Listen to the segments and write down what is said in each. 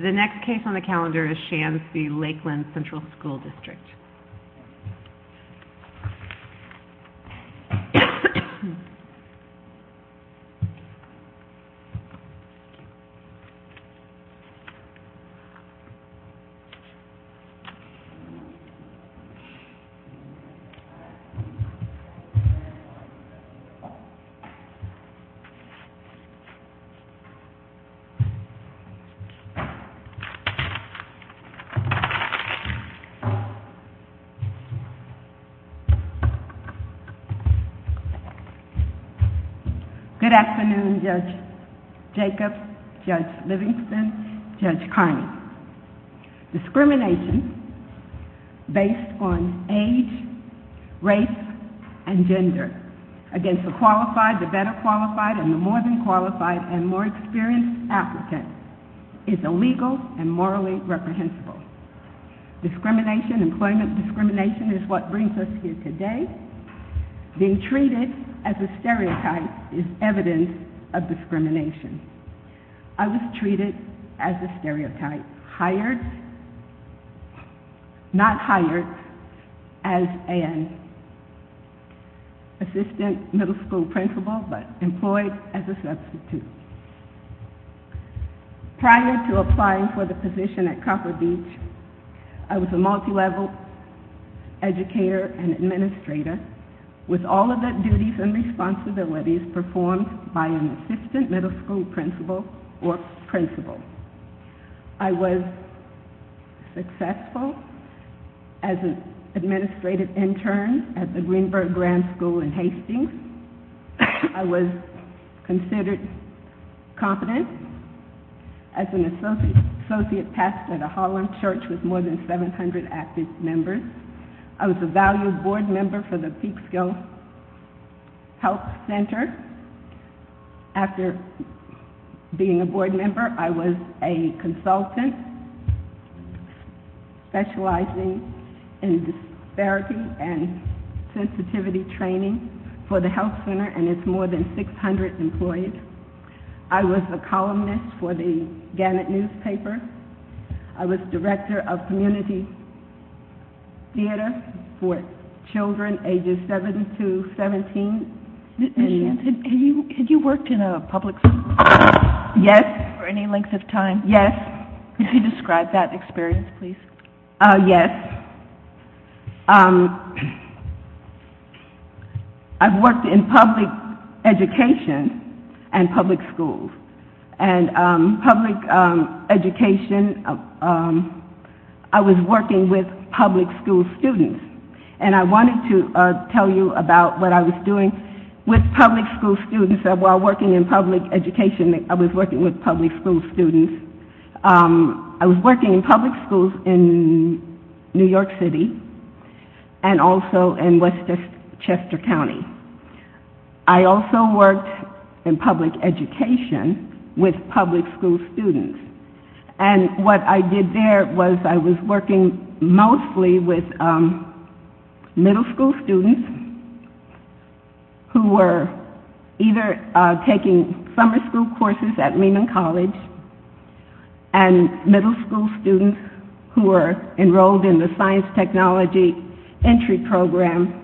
The next case on the calendar is Shands v. Lakeland Central School District. Good afternoon, Judge Jacobs, Judge Livingston, Judge Carney. Discrimination based on age, race, and gender against a qualified, the better qualified, and the more than qualified, and more experienced applicant is illegal and morally reprehensible. Discrimination, employment discrimination, is what brings us here today. Being treated as a stereotype is evidence of discrimination. I was treated as a stereotype, hired, not hired, as an assistant middle school principal, but employed as a substitute. Prior to applying for the position at Copper Beach, I was a multi-level educator and administrator, with all of the duties and responsibilities performed by an assistant middle school principal or principal. I was successful as an administrative intern at the Greenberg Grand School in Hastings. I was considered competent as an associate pastor at a Harlem church with more than 700 active members. I was a valued board member for the Peekskill Health Center. After being a board member, I was a consultant specializing in disparity and sensitivity training for the health center, and it's more than 600 employees. I was a columnist for the Gannett newspaper. I was director of community theater for children ages 7 to 17. Had you worked in a public school? Yes. For any length of time? Could you describe that experience, please? Yes. I've worked in public education and public schools. And public education, I was working with public school students. And I wanted to tell you about what I was doing with public school students, while working in public education, I was working with public school students. I was working in public schools in New York City and also in West Chester County. I also worked in public education with public school students. And what I did there was I was working mostly with middle school students who were either taking summer school courses at Lehman College, and middle school students who were enrolled in the science technology entry program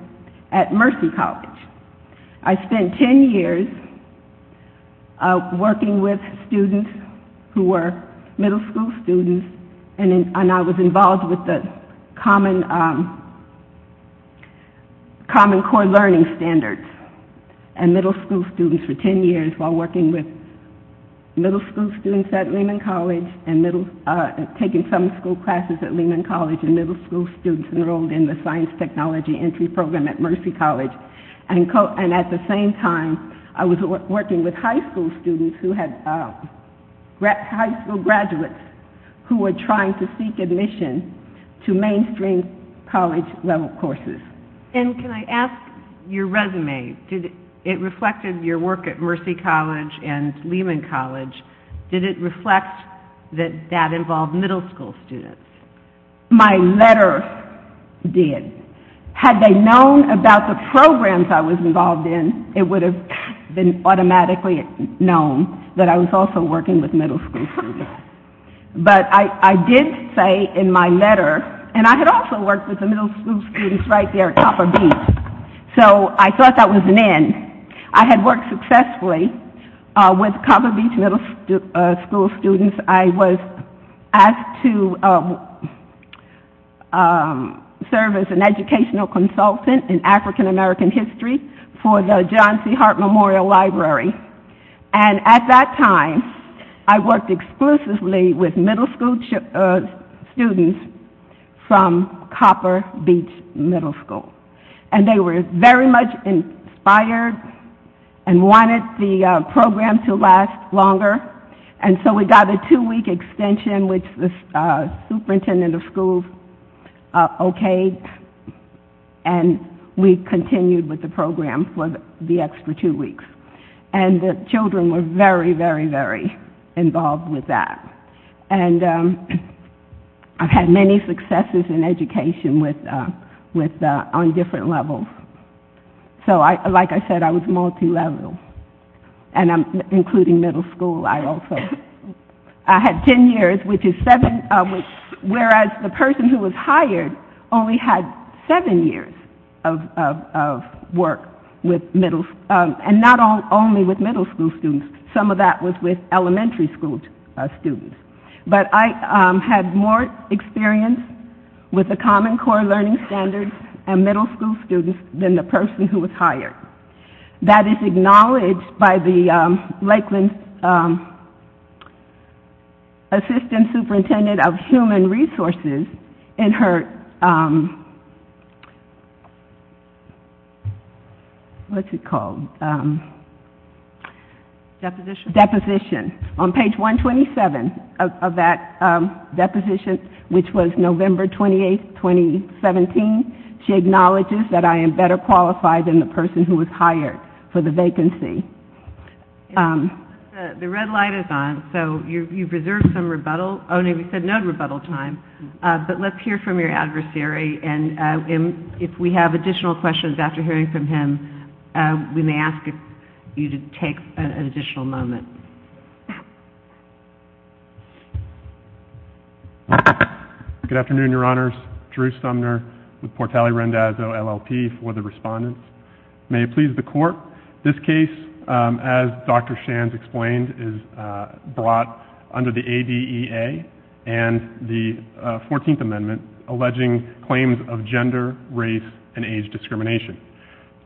at Mercy College. I spent 10 years working with students who were middle school students, and I was involved with the common core learning standards and middle school students for 10 years, while working with middle school students at Lehman College and taking summer school classes at Lehman College, and middle school students enrolled in the science technology entry program at Mercy College. And at the same time, I was working with high school students, high school graduates, who were trying to seek admission to mainstream college level courses. And can I ask your resume? It reflected your work at Mercy College and Lehman College. Did it reflect that that involved middle school students? My letter did. Had they known about the programs I was involved in, it would have been automatically known that I was also working with middle school students. But I did say in my letter, and I had also worked with the middle school students right there at Copper Beach, so I thought that was an end. I had worked successfully with Copper Beach middle school students. I was asked to serve as an educational consultant in African American history for the John C. Hart Memorial Library. And at that time, I worked exclusively with middle school students from Copper Beach middle school. And they were very much inspired and wanted the program to last longer. And so we got a two-week extension, which the superintendent of schools okayed, and we continued with the program for the extra two weeks. And the children were very, very, very involved with that. And I've had many successes in education on different levels. So, like I said, I was multilevel. And including middle school, I also had ten years, whereas the person who was hired only had seven years of work, and not only with middle school students. Some of that was with elementary school students. But I had more experience with the Common Core Learning Standards and middle school students than the person who was hired. That is acknowledged by the Lakeland Assistant Superintendent of Human Resources in her, what's it called, deposition. On page 127 of that deposition, which was November 28, 2017, she acknowledges that I am better qualified than the person who was hired for the vacancy. The red light is on, so you've reserved some rebuttal. Oh, no, you said no rebuttal time. But let's hear from your adversary, and if we have additional questions after hearing from him, we may ask you to take an additional moment. Thank you. Good afternoon, Your Honors. Drew Sumner with Portali Rendazzo, LLP, for the respondents. May it please the Court, this case, as Dr. Shands explained, is brought under the ADEA and the 14th Amendment, alleging claims of gender, race, and age discrimination.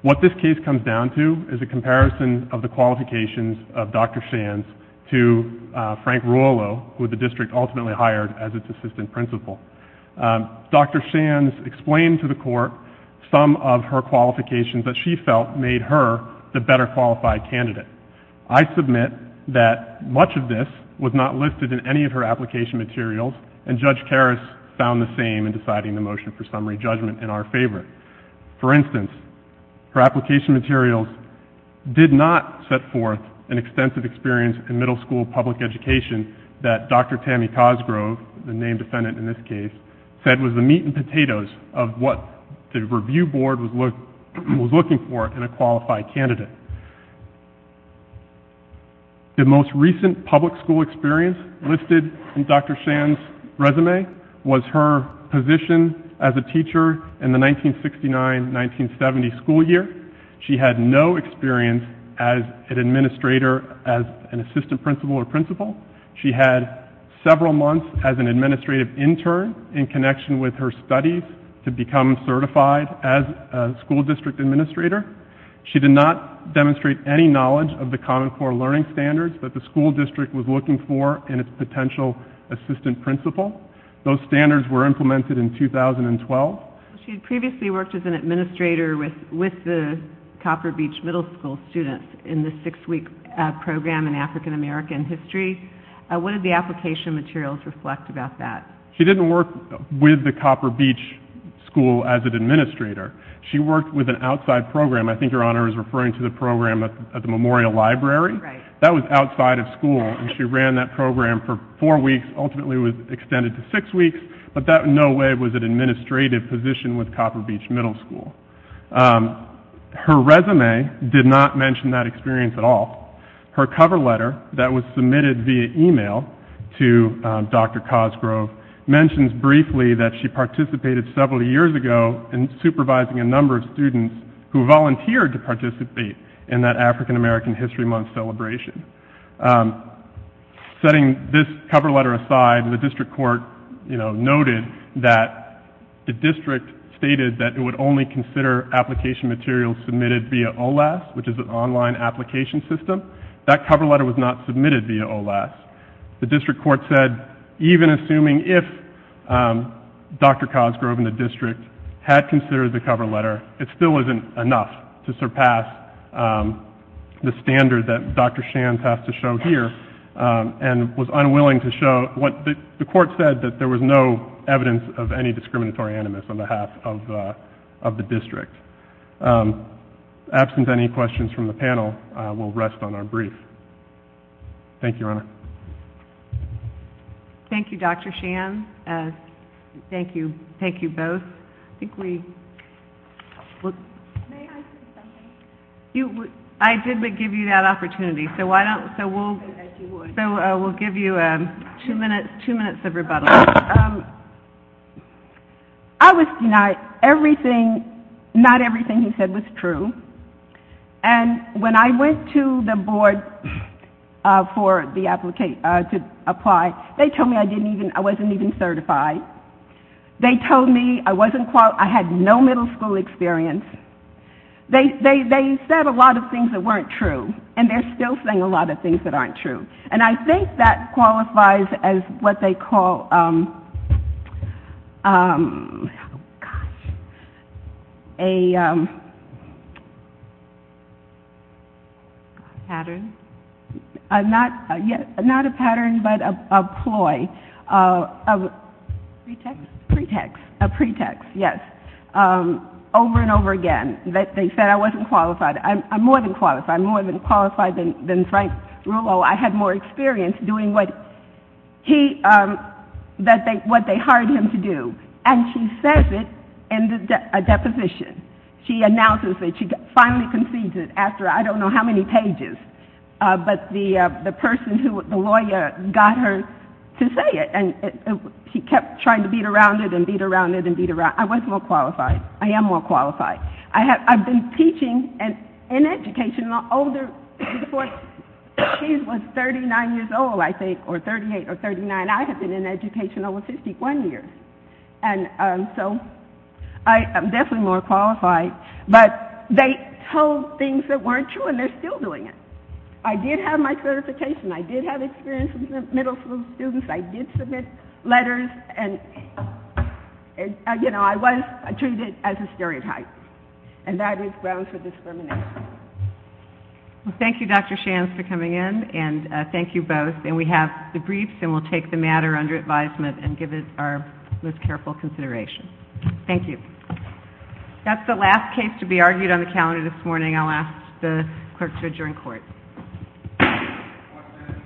What this case comes down to is a comparison of the qualifications of Dr. Shands to Frank Ruolo, who the district ultimately hired as its assistant principal. Dr. Shands explained to the Court some of her qualifications that she felt made her the better qualified candidate. I submit that much of this was not listed in any of her application materials, and Judge Karas found the same in deciding the motion for summary judgment in our favorite. For instance, her application materials did not set forth an extensive experience in middle school public education that Dr. Tammy Cosgrove, the named defendant in this case, said was the meat and potatoes of what the review board was looking for in a qualified candidate. The most recent public school experience listed in Dr. Shands' resume was her position as a teacher in the 1969-1970 school year. She had no experience as an administrator, as an assistant principal or principal. She had several months as an administrative intern in connection with her studies to become certified as a school district administrator. She did not demonstrate any knowledge of the Common Core Learning Standards that the school district was looking for in its potential assistant principal. Those standards were implemented in 2012. She had previously worked as an administrator with the Copper Beach Middle School students in the six-week program in African American History. What did the application materials reflect about that? She didn't work with the Copper Beach School as an administrator. She worked with an outside program. I think Your Honor is referring to the program at the Memorial Library. That was outside of school, and she ran that program for four weeks, ultimately was extended to six weeks, but that in no way was an administrative position with Copper Beach Middle School. Her resume did not mention that experience at all. Her cover letter that was submitted via email to Dr. Cosgrove mentions briefly that she participated several years ago in supervising a number of students who volunteered to participate in that African American History Month celebration. Setting this cover letter aside, the district court noted that the district stated that it would only consider application materials submitted via OLAS, which is an online application system. That cover letter was not submitted via OLAS. The district court said even assuming if Dr. Cosgrove and the district had considered the cover letter, it still isn't enough to surpass the standard that Dr. Shands has to show here and was unwilling to show. The court said that there was no evidence of any discriminatory animus on behalf of the district. Absent any questions from the panel, we'll rest on our brief. Thank you, Your Honor. Thank you, Dr. Shands. Thank you. Thank you both. May I say something? I did give you that opportunity, so we'll give you two minutes of rebuttal. I was denied everything, not everything he said was true. And when I went to the board for the applicant to apply, they told me I wasn't even certified. They told me I had no middle school experience. They said a lot of things that weren't true, and they're still saying a lot of things that aren't true. And I think that qualifies as what they call a pattern. Not a pattern, but a ploy, a pretext, yes, over and over again. They said I wasn't qualified. I'm more than qualified. I'm more than qualified than Frank Rulo. I had more experience doing what they hired him to do. And she says it in a deposition. She announces it. She finally concedes it after I don't know how many pages. But the person who, the lawyer, got her to say it, and he kept trying to beat around it and beat around it and beat around it. I was more qualified. I am more qualified. I've been teaching and in education older. Before she was 39 years old, I think, or 38 or 39, I had been in education over 51 years. And so I am definitely more qualified. But they told things that weren't true and they're still doing it. I did have my certification. I did have experience with middle school students. I did submit letters. And, you know, I was treated as a stereotype. And that is grounds for discrimination. Well, thank you, Dr. Shands, for coming in. And thank you both. And we have the briefs and we'll take the matter under advisement and give it our most careful consideration. Thank you. That's the last case to be argued on the calendar this morning. I'll ask the clerk to adjourn court.